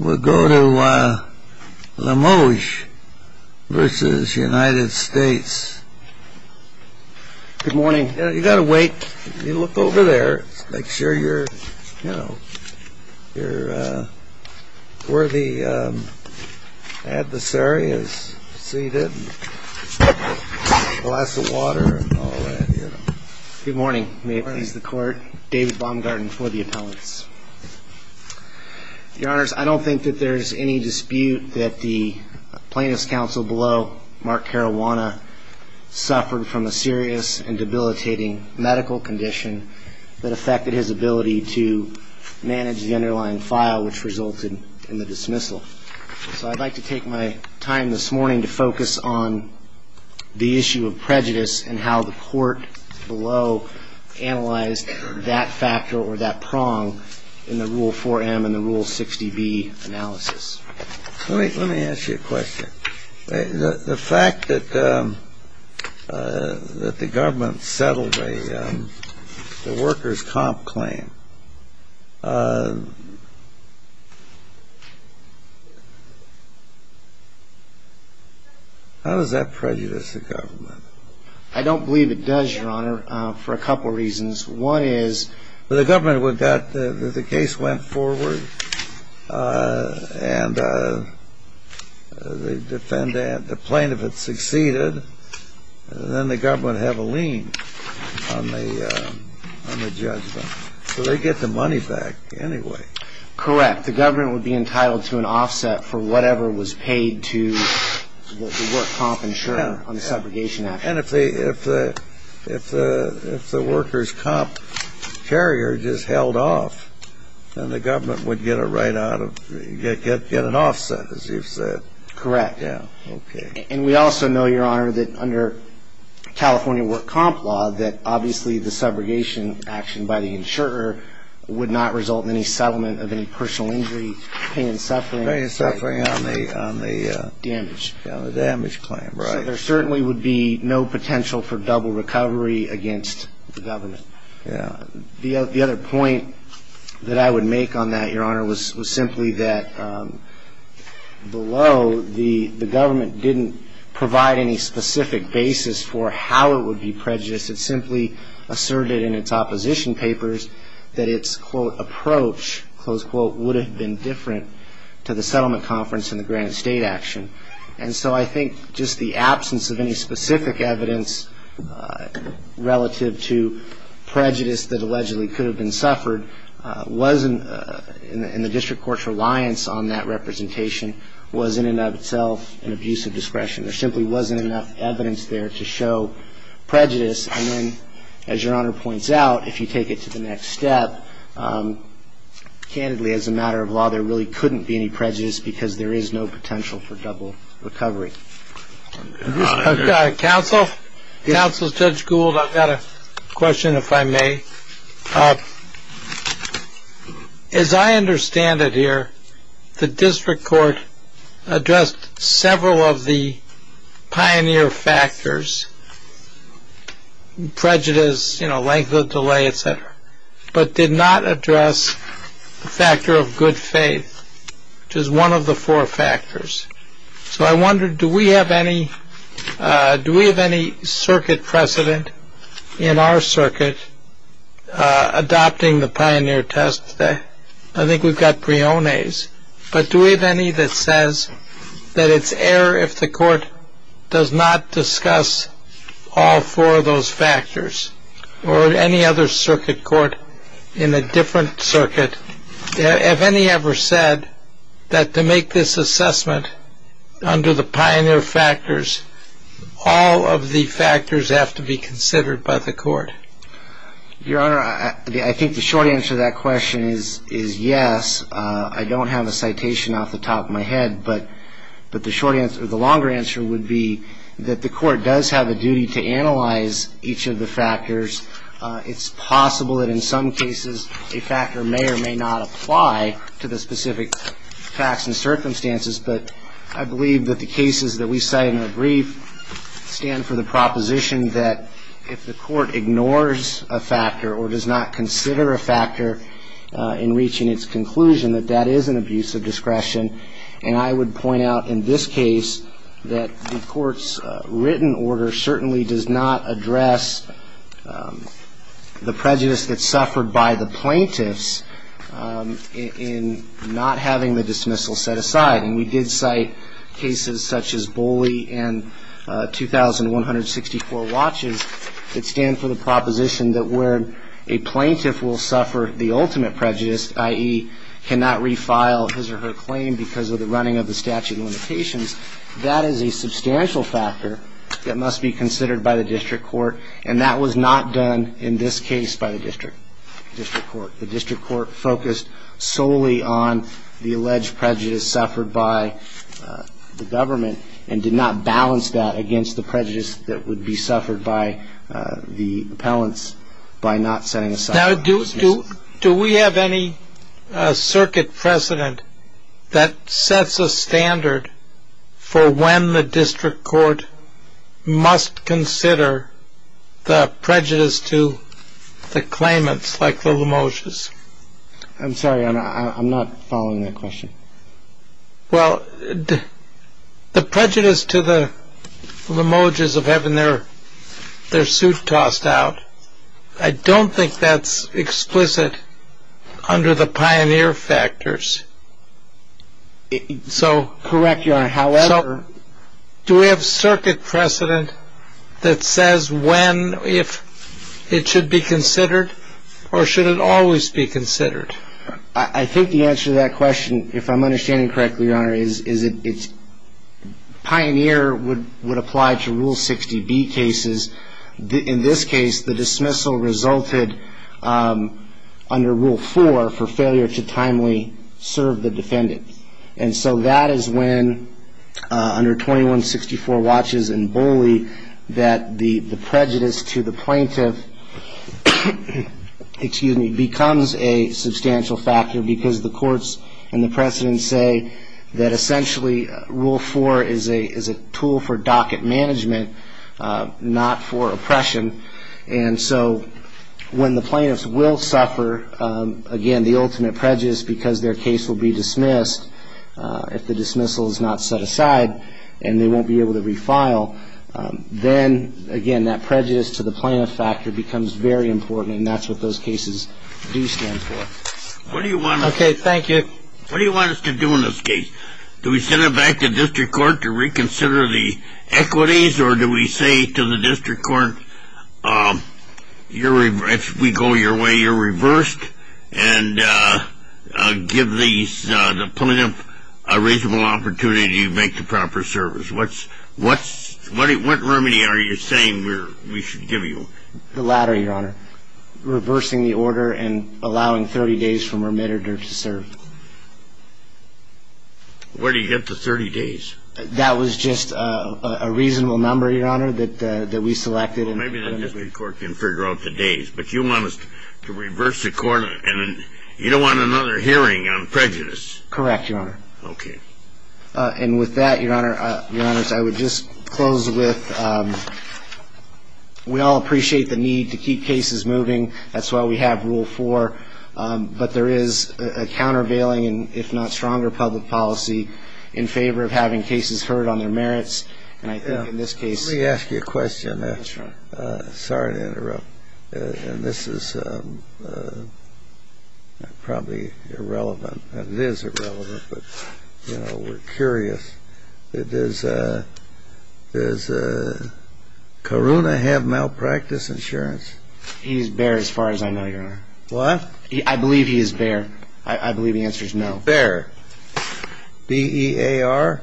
We'll go to Lemoge v. United States. Good morning. You've got to wait. You look over there, make sure you're, you know, you're worthy adversary is seated. Glass of water and all that, you know. Good morning. May it please the court. David Baumgarten for the appellants. Your honors, I don't think that there's any dispute that the plaintiff's counsel below, Mark Caruana, suffered from a serious and debilitating medical condition that affected his ability to manage the underlying file, which resulted in the dismissal. So I'd like to take my time this morning to focus on the issue of prejudice and how the court below analyzed that factor or that prong in the Rule 4M and the Rule 60B analysis. Let me ask you a question. The fact that the government settled the workers' comp claim, how does that prejudice the government? I don't believe it does, Your Honor, for a couple of reasons. One is the government would get the case went forward and the defendant, the plaintiff had succeeded, and then the government would have a lien on the judgment. So they get the money back anyway. Correct. The government would be entitled to an offset for whatever was paid to the work comp insurer on the separation action. And if the workers' comp carrier just held off, then the government would get an offset, as you've said. Correct. Okay. And we also know, Your Honor, that under California work comp law, that obviously the separation action by the insurer would not result in any settlement of any personal injury, pain and suffering on the damage claim. So there certainly would be no potential for double recovery against the government. Yeah. The other point that I would make on that, Your Honor, was simply that below the government didn't provide any specific basis for how it would be prejudiced. It simply asserted in its opposition papers that its, quote, approach, close quote, would have been different to the settlement conference and the Granite State action. And so I think just the absence of any specific evidence relative to prejudice that allegedly could have been suffered wasn't, in the district court's reliance on that representation, wasn't in and of itself an abuse of discretion. There simply wasn't enough evidence there to show prejudice. And then, as Your Honor points out, if you take it to the next step, candidly, as a matter of law, there really couldn't be any prejudice because there is no potential for double recovery. Counsel, Counsel Judge Gould, I've got a question, if I may. As I understand it here, the district court addressed several of the pioneer factors, prejudice, length of delay, et cetera, but did not address the factor of good faith, which is one of the four factors. So I wonder, do we have any, do we have any circuit precedent in our circuit adopting the pioneer test? I think we've got Briones. But do we have any that says that it's error if the court does not discuss all four of those factors or any other circuit court in a different circuit, have any ever said that to make this assessment under the pioneer factors, all of the factors have to be considered by the court? Your Honor, I think the short answer to that question is yes. I don't have a citation off the top of my head, but the short answer or the longer answer would be that the court does have a duty to analyze each of the factors. It's possible that in some cases a factor may or may not apply to the specific facts and circumstances, but I believe that the cases that we cite in our brief stand for the proposition that if the court ignores a factor or does not consider a factor in reaching its conclusion, that that is an abuse of discretion. And I would point out in this case that the court's written order certainly does not address the prejudice that's suffered by the plaintiffs in not having the dismissal set aside. And we did cite cases such as Boley and 2,164 watches that stand for the proposition that where a plaintiff will suffer the ultimate prejudice, i.e., cannot refile his or her claim because of the running of the statute of limitations, that is a substantial factor that must be considered by the district court, and that was not done in this case by the district court. The district court focused solely on the alleged prejudice suffered by the government and did not balance that against the prejudice that would be suffered by the appellants by not setting aside the dismissal. Now, do we have any circuit precedent that sets a standard for when the district court must consider the prejudice to the claimants like the Lomoges? I'm sorry, I'm not following that question. Well, the prejudice to the Lomoges of having their suit tossed out, I don't think that's explicit under the pioneer factors. Correct, Your Honor. So do we have circuit precedent that says when it should be considered or should it always be considered? I think the answer to that question, if I'm understanding correctly, Your Honor, is pioneer would apply to Rule 60B cases. In this case, the dismissal resulted under Rule 4 for failure to timely serve the defendant, and so that is when under 2164 watches in Boley that the prejudice to the plaintiff becomes a substantial factor because the courts and the precedents say that essentially Rule 4 is a tool for docket management, not for oppression. And so when the plaintiffs will suffer, again, the ultimate prejudice because their case will be dismissed if the dismissal is not set aside and they won't be able to refile, then, again, that prejudice to the plaintiff factor becomes very important, and that's what those cases do stand for. Okay, thank you. What do you want us to do in this case? Do we send it back to district court to reconsider the equities, or do we say to the district court, if we go your way, you're reversed, and give the plaintiff a reasonable opportunity to make the proper service? What remedy are you saying we should give you? The latter, Your Honor, reversing the order and allowing 30 days for remitted or to serve. Where do you get the 30 days? That was just a reasonable number, Your Honor, that we selected. Well, maybe the district court can figure out the days, but you want us to reverse the court and you don't want another hearing on prejudice. Correct, Your Honor. Okay. And with that, Your Honor, I would just close with we all appreciate the need to keep cases moving. That's why we have Rule 4. But there is a countervailing, if not stronger, public policy in favor of having cases heard on their merits. And I think in this case ---- Let me ask you a question. Sorry to interrupt. And this is probably irrelevant. It is irrelevant, but, you know, we're curious. Does Karuna have malpractice insurance? He's bare as far as I know, Your Honor. What? I believe he is bare. I believe the answer is no. Bare. B-E-A-R?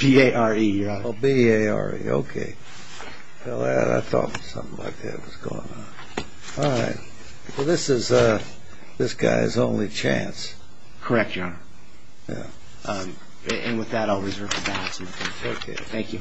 B-A-R-E, Your Honor. Oh, B-A-R-E. Okay. I thought something like that was going on. All right. Well, this is this guy's only chance. Correct, Your Honor. Yeah. And with that, I'll reserve the balance. Okay. Thank you.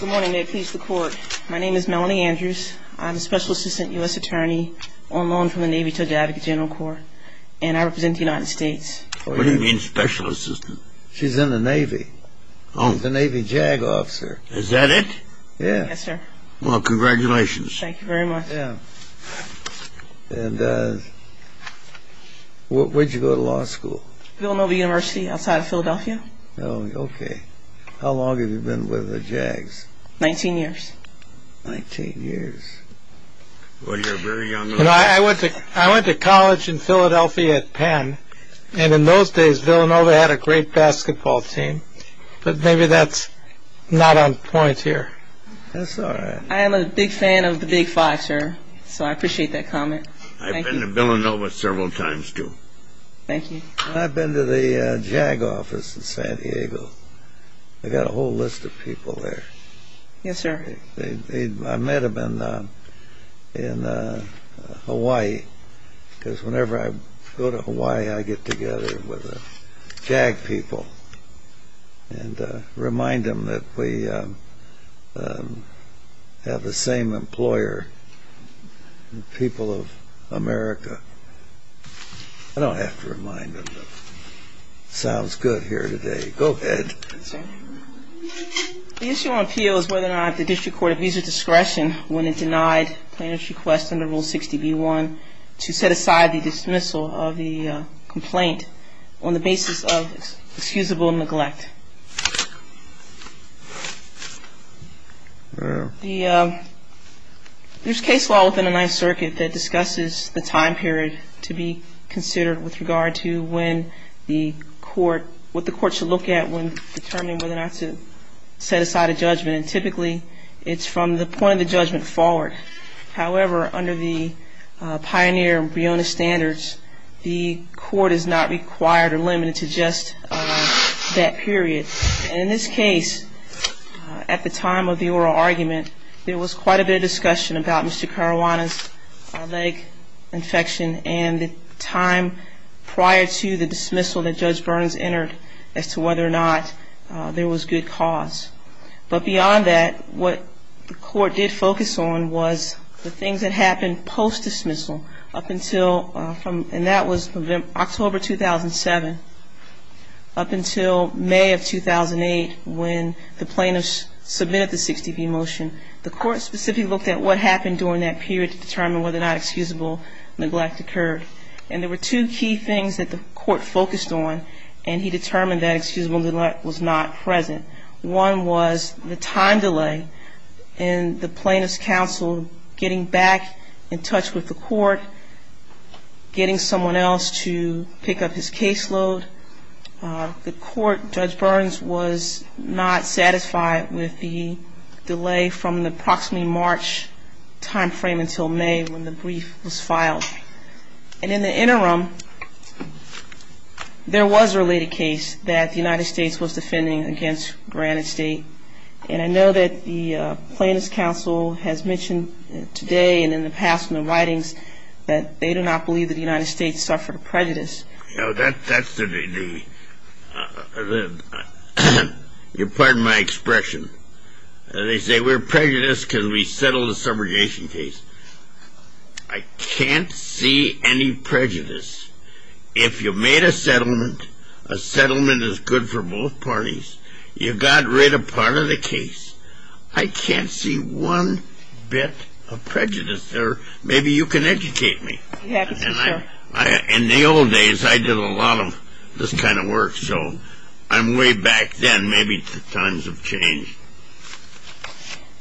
Good morning. May it please the Court. My name is Melanie Andrews. I'm a Special Assistant U.S. Attorney on loan from the Navy to the Advocate General Corps, and I represent the United States. What do you mean Special Assistant? She's in the Navy. Oh. Okay. Thank you. Thank you. Thank you. Thank you. Thank you. Thank you. Thank you. Thank you, sir. Well, congratulations. Thank you very much. Yeah. And where did you go to law school? Villanova University outside of Philadelphia. Oh, okay. How long have you been with the Jags? Nineteen years. Nineteen years. Well, you're very young. I went to college in Philadelphia at Penn, and in those days, Villanova had a great basketball team. But maybe that's not on point here. That's all right. I am a big fan of the Big Five, sir, so I appreciate that comment. Thank you. I've been to Villanova several times, too. Thank you. I've been to the Jag office in San Diego. They've got a whole list of people there. Yes, sir. I met them in Hawaii, because whenever I go to Hawaii, I get together with the Jag people and remind them that we have the same employer, the people of America. I don't have to remind them, but it sounds good here today. Go ahead. Yes, sir. The issue on appeal is whether or not the district court of visa discretion, when it denied plaintiff's request under Rule 60b-1 to set aside the dismissal of the complaint on the basis of excusable neglect. There's case law within the Ninth Circuit that discusses the time period to be considered with regard to what the court should look at when determining whether or not to set aside a judgment, and typically it's from the point of the judgment forward. However, under the Pioneer and Briona standards, the court is not required or limited to just that period. In this case, at the time of the oral argument, there was quite a bit of discussion about Mr. Caruana's leg infection and the time prior to the dismissal that Judge Burns entered as to whether or not there was good cause. But beyond that, what the court did focus on was the things that happened post-dismissal up until, and that was October 2007, up until May of 2008 when the plaintiffs submitted the 60b motion. The court specifically looked at what happened during that period to determine whether or not excusable neglect occurred. And there were two key things that the court focused on, and he determined that excusable neglect was not present. One was the time delay in the plaintiff's counsel getting back in touch with the court, getting someone else to pick up his caseload. The court, Judge Burns was not satisfied with the delay from the approximately March time frame until May when the brief was filed. And in the interim, there was a related case that the United States was defending against Granite State, and I know that the plaintiff's counsel has mentioned today and in the past in the writings that they do not believe that the United States suffered a prejudice. That's the, you'll pardon my expression. They say we're prejudiced because we settled a subrogation case. I can't see any prejudice. If you made a settlement, a settlement is good for both parties, you got rid of part of the case. I can't see one bit of prejudice there. Maybe you can educate me. In the old days, I did a lot of this kind of work, so I'm way back then. Maybe the times have changed.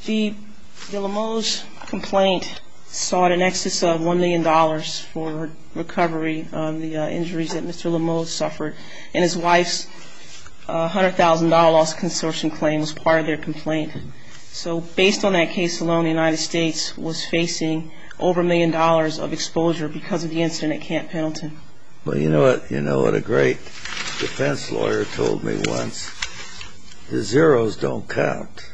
The Limoge complaint sought an excess of $1 million for recovery on the injuries that Mr. Limoge suffered, and his wife's $100,000 loss consortium claim was part of their complaint. So based on that case alone, the United States was facing over a million dollars of exposure because of the incident at Camp Pendleton. Well, you know what a great defense lawyer told me once? The zeros don't count.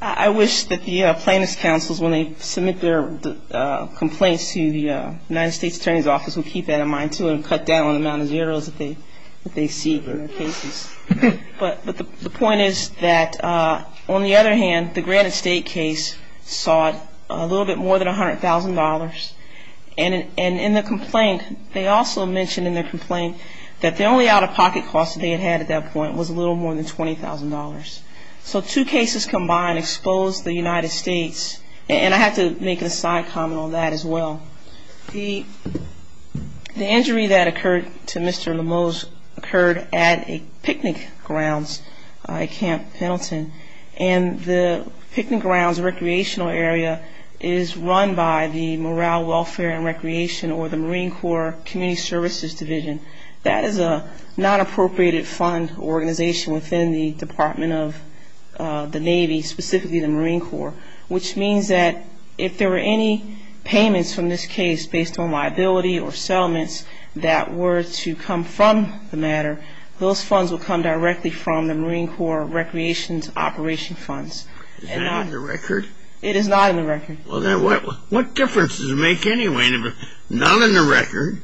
I wish that the plaintiffs' counsels, when they submit their complaints to the United States Attorney's Office, would keep that in mind, too, and cut down on the amount of zeros that they seek in their cases. But the point is that, on the other hand, the Granite State case sought a little bit more than $100,000, and in the complaint, they also mentioned in their complaint that the only out-of-pocket cost they had at that point was a little more than $20,000. So two cases combined exposed the United States, and I have to make a side comment on that as well. The injury that occurred to Mr. Limoge occurred at a picnic grounds at Camp Pendleton, and the picnic grounds recreational area is run by the Morale, Welfare and Recreation or the Marine Corps Community Services Division. That is a non-appropriated fund organization within the Department of the Navy, specifically the Marine Corps, which means that if there were any payments from this case based on liability or settlements that were to come from the matter, those funds would come directly from the Marine Corps Recreation's operation funds. Is that in the record? It is not in the record. Well, then what difference does it make anyway? Not in the record.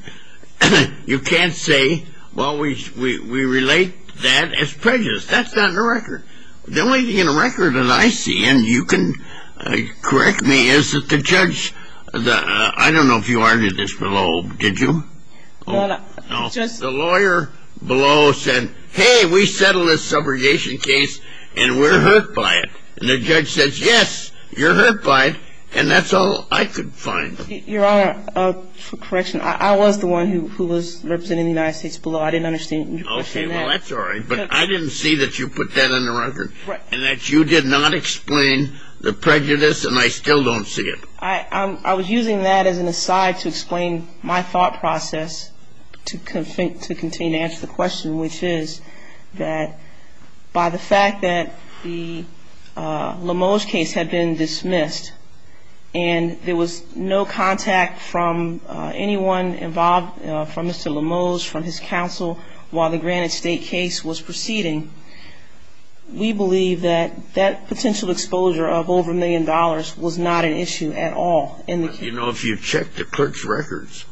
You can't say, well, we relate that as prejudice. That's not in the record. The only thing in the record that I see, and you can correct me, is that the judge, I don't know if you argued this below, did you? No, the lawyer below said, hey, we settled this subrogation case, and we're hurt by it. And the judge says, yes, you're hurt by it, and that's all I could find. Your Honor, for correction, I was the one who was representing the United States below. I didn't understand when you questioned that. Okay, well, that's all right. But I didn't see that you put that in the record and that you did not explain the prejudice, and I still don't see it. I was using that as an aside to explain my thought process to continue to answer the question, which is that by the fact that the Limoge case had been dismissed, and there was no contact from anyone involved, from Mr. Limoge, from his counsel, while the Granite State case was proceeding, we believe that that potential exposure of over a million dollars was not an issue at all in the case. You know, if you checked the clerk's records,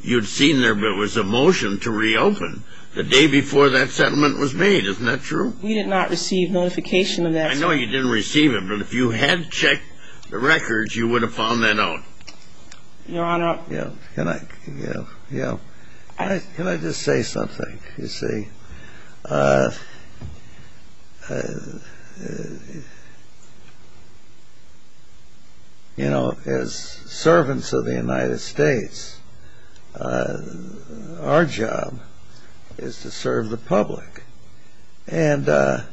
you'd seen there was a motion to reopen the day before that settlement was made. Isn't that true? We did not receive notification of that. I know you didn't receive it, but if you had checked the records, you would have found that out. Your Honor. Can I just say something, you see? You know, as servants of the United States, our job is to serve the public. And I've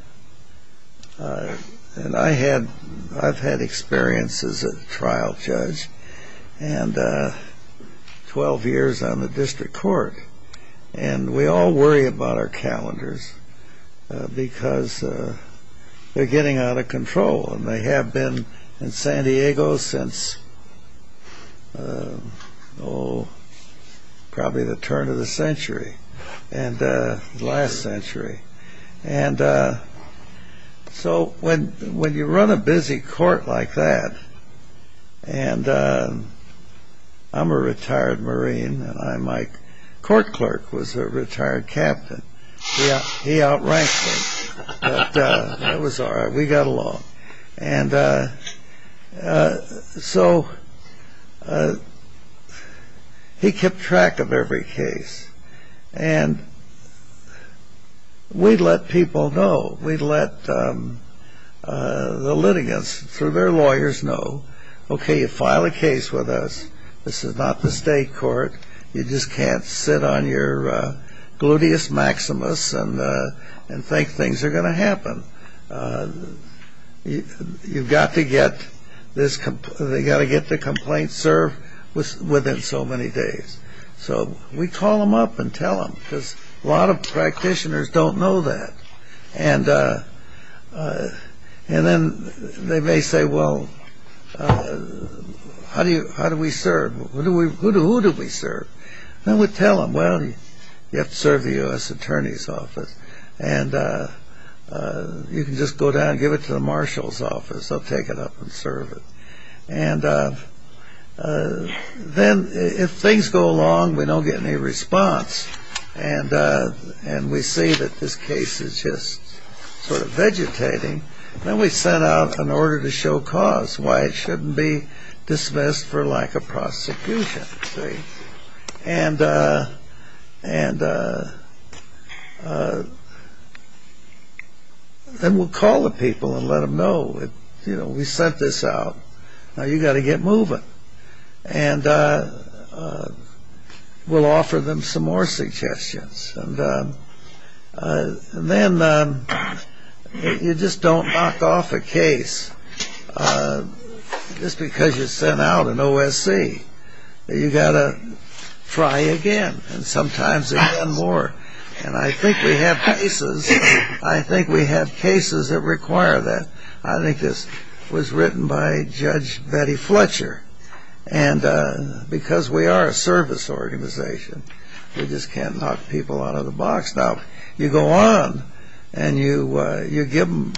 had experience as a trial judge, and 12 years on the district court, and we all worry about our calendars because they're getting out of control, and they have been in San Diego since, oh, probably the turn of the century, last century. And so when you run a busy court like that, and I'm a retired Marine, and my court clerk was a retired captain. He outranked me, but that was all right. We got along. And so he kept track of every case, and we let people know. We let the litigants, through their lawyers, know, okay, you file a case with us. This is not the state court. You just can't sit on your gluteus maximus and think things are going to happen. You've got to get the complaint served within so many days. So we call them up and tell them, because a lot of practitioners don't know that. And then they may say, well, how do we serve? Who do we serve? And we tell them, well, you have to serve the U.S. Attorney's Office, and you can just go down and give it to the Marshal's Office. They'll take it up and serve it. And then if things go along, we don't get any response, and we see that this case is just sort of vegetating, then we send out an order to show cause, why it shouldn't be dismissed for lack of prosecution. Then we'll call the people and let them know. We sent this out. Now you've got to get moving. And we'll offer them some more suggestions. And then you just don't knock off a case just because you sent out an OSC. You've got to try again, and sometimes again more. And I think we have cases that require that. I think this was written by Judge Betty Fletcher. And because we are a service organization, we just can't knock people out of the box. Now, you go on, and you give them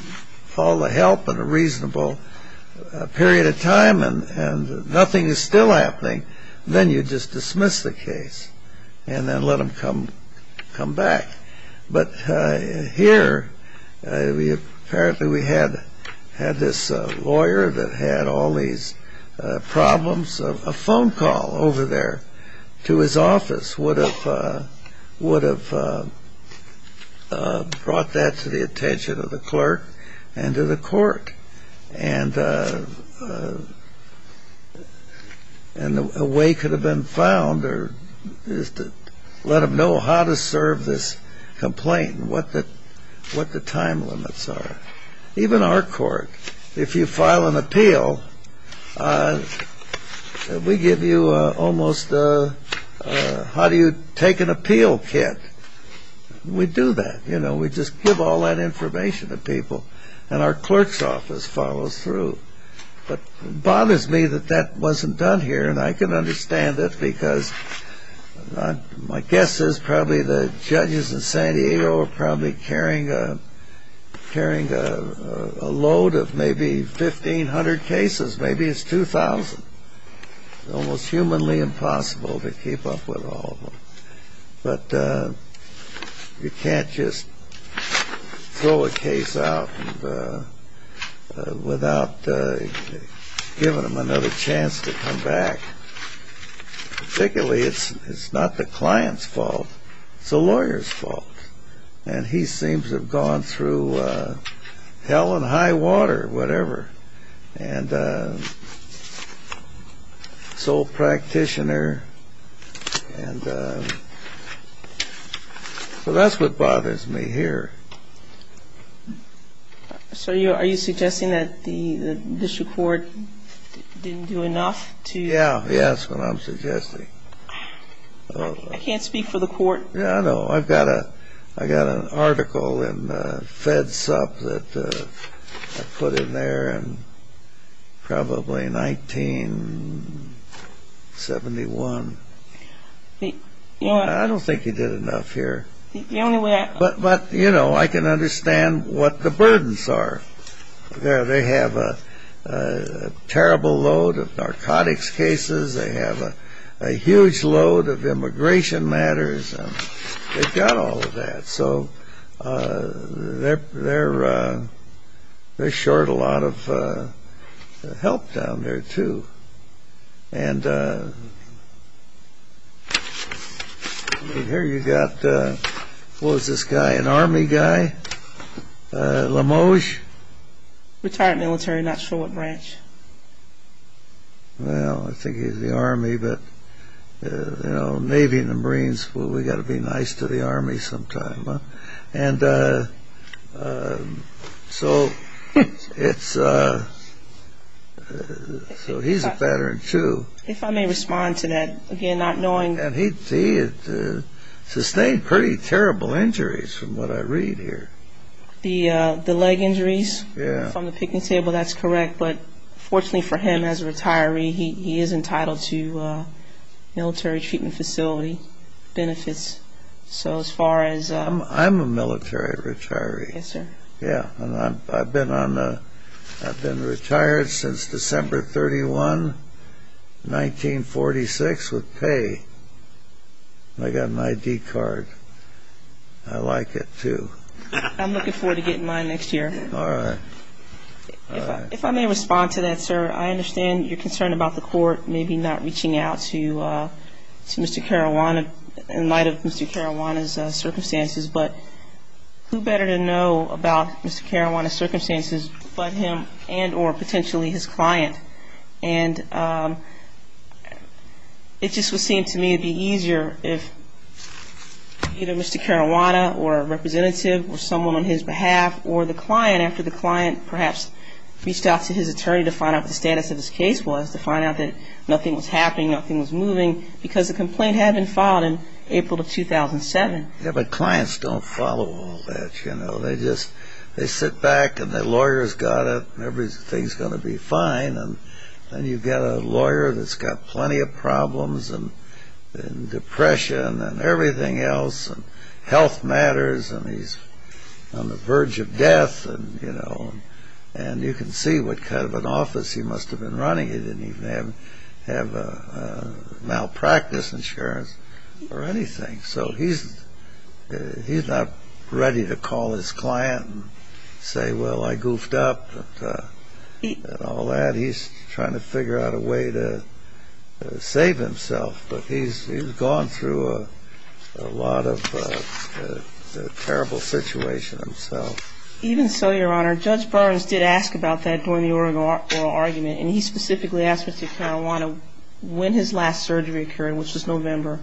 all the help in a reasonable period of time, and nothing is still happening, then you just dismiss the case, and then let them come back. But here, apparently we had this lawyer that had all these problems. A phone call over there to his office would have brought that to the attention of the clerk and to the court. And a way could have been found is to let them know how to serve this complaint and what the time limits are. Even our court, if you file an appeal, we give you almost a how-do-you-take-an-appeal kit. We do that. We just give all that information to people. And our clerk's office follows through. But it bothers me that that wasn't done here. And I can understand it, because my guess is probably the judges in San Diego are probably carrying a load of maybe 1,500 cases. Maybe it's 2,000. It's almost humanly impossible to keep up with all of them. But you can't just throw a case out without giving them another chance to come back. Particularly, it's not the client's fault. It's the lawyer's fault. And he seems to have gone through hell and high water, whatever. Sole practitioner. So that's what bothers me here. So are you suggesting that the district court didn't do enough to... Yeah. Yeah, that's what I'm suggesting. I can't speak for the court. Yeah, I know. I've got an article in Fed Sup that I put in there in probably 1971. I don't think he did enough here. But, you know, I can understand what the burdens are. They have a terrible load of narcotics cases. They have a huge load of immigration matters. They've got all of that. So they're short a lot of help down there, too. Here you've got, what was this guy, an Army guy? LaMoges? Retired military. Not sure what branch. Well, I think he was in the Army. But, you know, Navy and the Marines, we've got to be nice to the Army sometimes. And so it's... So he's a veteran, too. If I may respond to that, again, not knowing... And he sustained pretty terrible injuries from what I read here. The leg injuries from the picnic table, that's correct. But fortunately for him as a retiree, he is entitled to military treatment facility benefits. So as far as... I'm a military retiree. Yes, sir. Yeah, and I've been retired since December 31, 1946 with pay. I got an ID card. I like it, too. I'm looking forward to getting mine next year. All right. If I may respond to that, sir, I understand you're concerned about the court maybe not reaching out to Mr. Caruana in light of Mr. Caruana's circumstances. But who better to know about Mr. Caruana's circumstances but him and or potentially his client? And it just would seem to me it would be easier if either Mr. Caruana or a representative or someone on his behalf or the client, after the client perhaps reached out to his attorney to find out what the status of his case was, to find out that nothing was happening, nothing was moving, because the complaint had been filed in April of 2007. Yeah, but clients don't follow all that, you know. They just sit back and the lawyer's got it and everything's going to be fine, and then you've got a lawyer that's got plenty of problems and depression and everything else and health matters and he's on the verge of death and, you know, and you can see what kind of an office he must have been running. He didn't even have malpractice insurance or anything. So he's not ready to call his client and say, well, I goofed up and all that. I mean, he's trying to figure out a way to save himself, but he's gone through a lot of terrible situation himself. Even so, Your Honor, Judge Burns did ask about that during the oral argument and he specifically asked Mr. Caruana when his last surgery occurred, which was November,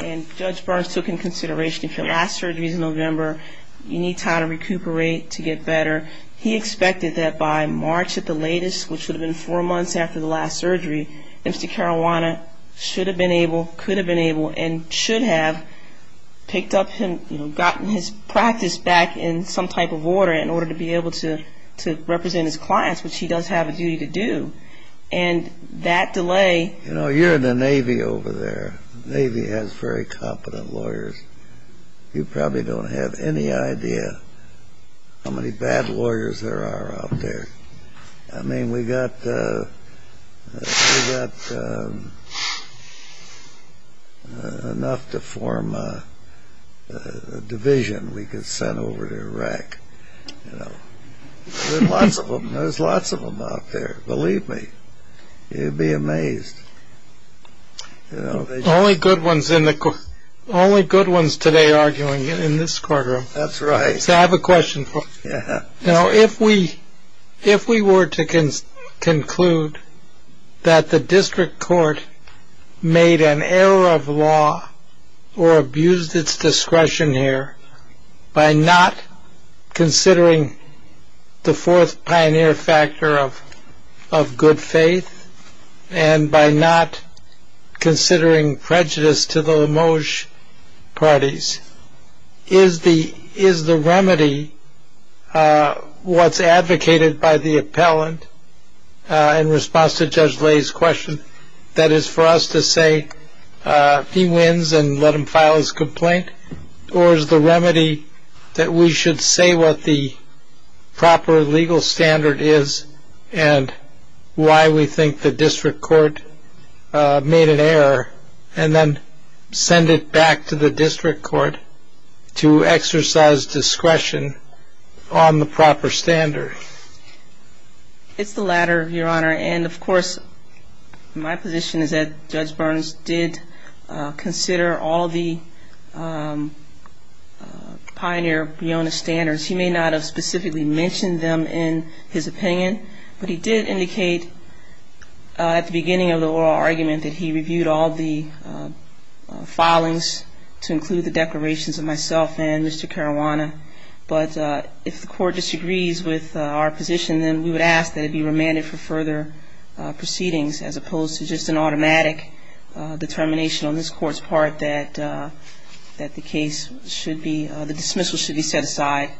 and Judge Burns took into consideration if your last surgery is in November, you need time to recuperate, to get better. He expected that by March at the latest, which would have been four months after the last surgery, Mr. Caruana should have been able, could have been able, and should have picked up, gotten his practice back in some type of order in order to be able to represent his clients, which he does have a duty to do. And that delay... You know, you're in the Navy over there. The Navy has very competent lawyers. You probably don't have any idea how many bad lawyers there are out there. I mean, we got enough to form a division we could send over to Iraq, you know. There's lots of them. There's lots of them out there. Believe me, you'd be amazed. Only good ones today arguing in this courtroom. That's right. So I have a question for you. Now, if we were to conclude that the district court made an error of law or abused its discretion here by not considering the fourth pioneer factor of good faith and by not considering prejudice to the Lamoge parties, is the remedy what's advocated by the appellant in response to Judge Lay's question, that is for us to say he wins and let him file his complaint, or is the remedy that we should say what the proper legal standard is and why we think the district court made an error and then send it back to the district court to exercise discretion on the proper standard? And, of course, my position is that Judge Burns did consider all the pioneer BIONA standards. He may not have specifically mentioned them in his opinion, but he did indicate at the beginning of the oral argument that he reviewed all the filings to include the declarations of myself and Mr. Caruana. But if the court disagrees with our position, then we would ask that it be remanded for further proceedings, as opposed to just an automatic determination on this court's part that the dismissal should be set aside.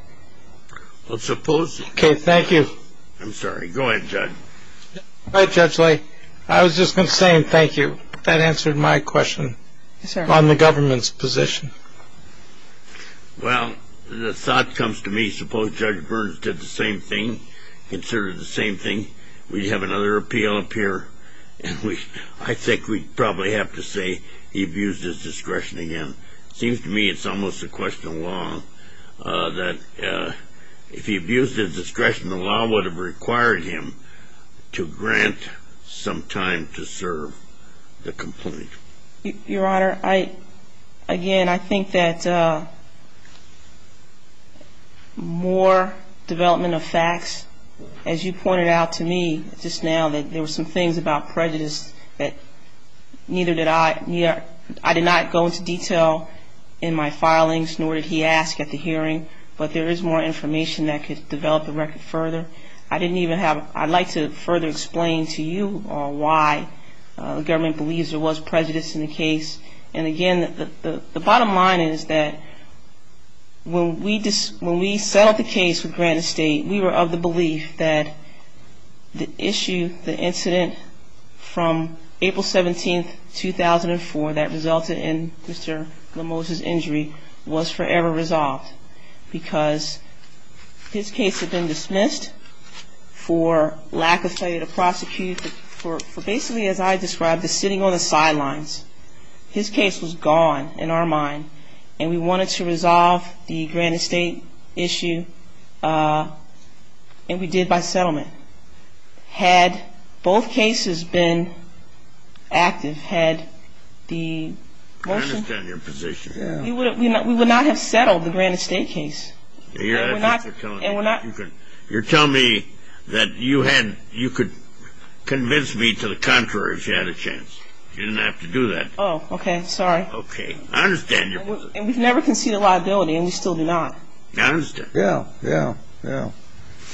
Okay, thank you. I'm sorry. Go ahead, Judge. All right, Judge Lay. I was just going to say thank you. That answered my question on the government's position. Well, the thought comes to me, suppose Judge Burns did the same thing, considered the same thing, we'd have another appeal appear, and I think we'd probably have to say he abused his discretion again. It seems to me it's almost a question of law, that if he abused his discretion, the law would have required him to grant some time to serve the complaint. Your Honor, again, I think that more development of facts, as you pointed out to me just now, that there were some things about prejudice that neither did I. I did not go into detail in my filings, nor did he ask at the hearing, but there is more information that could develop the record further. I'd like to further explain to you why the government believes there was prejudice in the case. And again, the bottom line is that when we settled the case with Grant Estate, we were of the belief that the issue, the incident from April 17, 2004, that resulted in Mr. Lemos's injury was forever resolved because his case had been dismissed for lack of failure to prosecute, for basically, as I described, the sitting on the sidelines. His case was gone in our mind, and we wanted to resolve the Grant Estate issue, and we did by settlement. Had both cases been active, had the motion... I understand your position. We would not have settled the Grant Estate case. You're telling me that you could convince me to the contrary if you had a chance. You didn't have to do that. Oh, okay. Sorry. Okay. I understand your position. And we've never conceded liability, and we still do not. I understand. Yeah, yeah, yeah.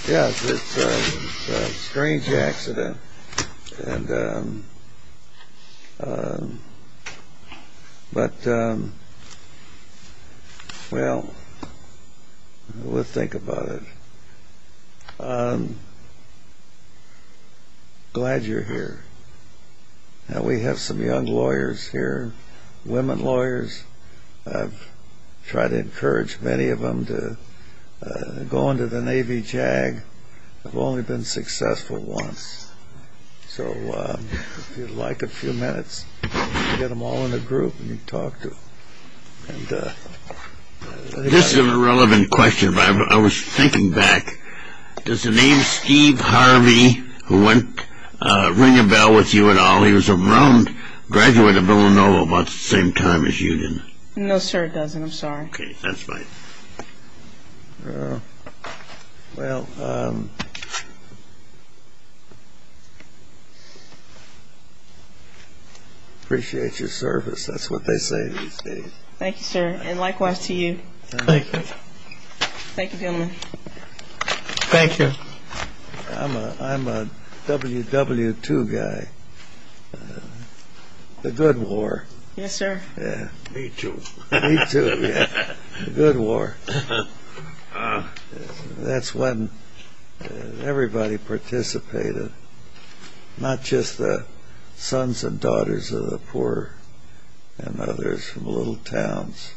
Yes, it's a strange accident. But, well, we'll think about it. Glad you're here. Now, we have some young lawyers here, women lawyers. I've tried to encourage many of them to go into the Navy JAG. They've only been successful once. So if you'd like a few minutes, you can get them all in a group, and you can talk to them. This is a relevant question, but I was thinking back. Does the name Steve Harvey, who went ring-a-bell with you at all, graduate of Villanova about the same time as you did? No, sir, it doesn't. I'm sorry. Okay. That's fine. Well, appreciate your service. That's what they say these days. Thank you, sir, and likewise to you. Thank you. Thank you, gentlemen. Thank you. I'm a WW2 guy. The good war. Yes, sir. Yeah. Me too. Me too, yeah. The good war. That's when everybody participated, not just the sons and daughters of the poor and others from little towns.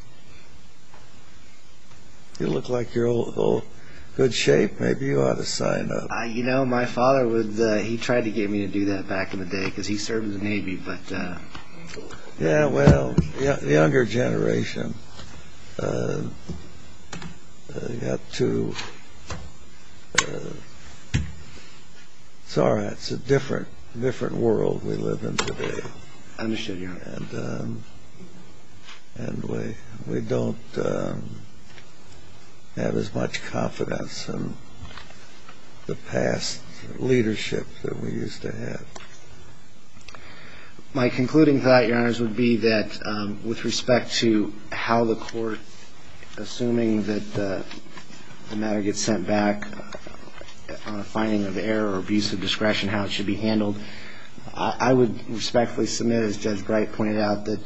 You look like you're in good shape. Maybe you ought to sign up. You know, my father would. He tried to get me to do that back in the day because he served in the Navy. Yeah, well, younger generation. You've got to. It's all right. It's a different world we live in today. I understand. And we don't have as much confidence in the past leadership that we used to have. My concluding thought, Your Honors, would be that with respect to how the court, assuming that the matter gets sent back on a finding of error or abuse of discretion, how it should be handled, I would respectfully submit, as Judge Bright pointed out, that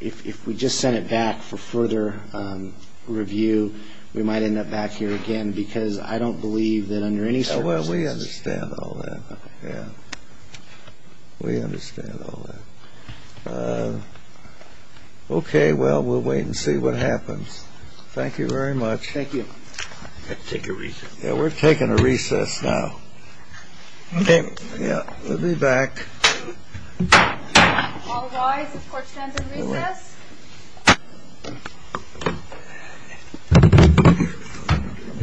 if we just sent it back for further review, we might end up back here again, because I don't believe that under any circumstances. Well, we understand all that, yeah. We understand all that. Okay, well, we'll wait and see what happens. Thank you very much. Thank you. I've got to take a recess. Yeah, we're taking a recess now. Okay. Yeah, we'll be back. All rise. Court stands in recess. Let's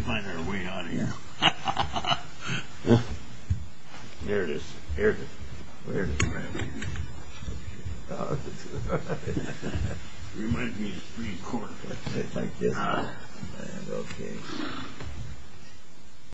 find our way out of here. There it is. There it is. There it is. Reminds me of the Supreme Court. Thank you, sir. Okay.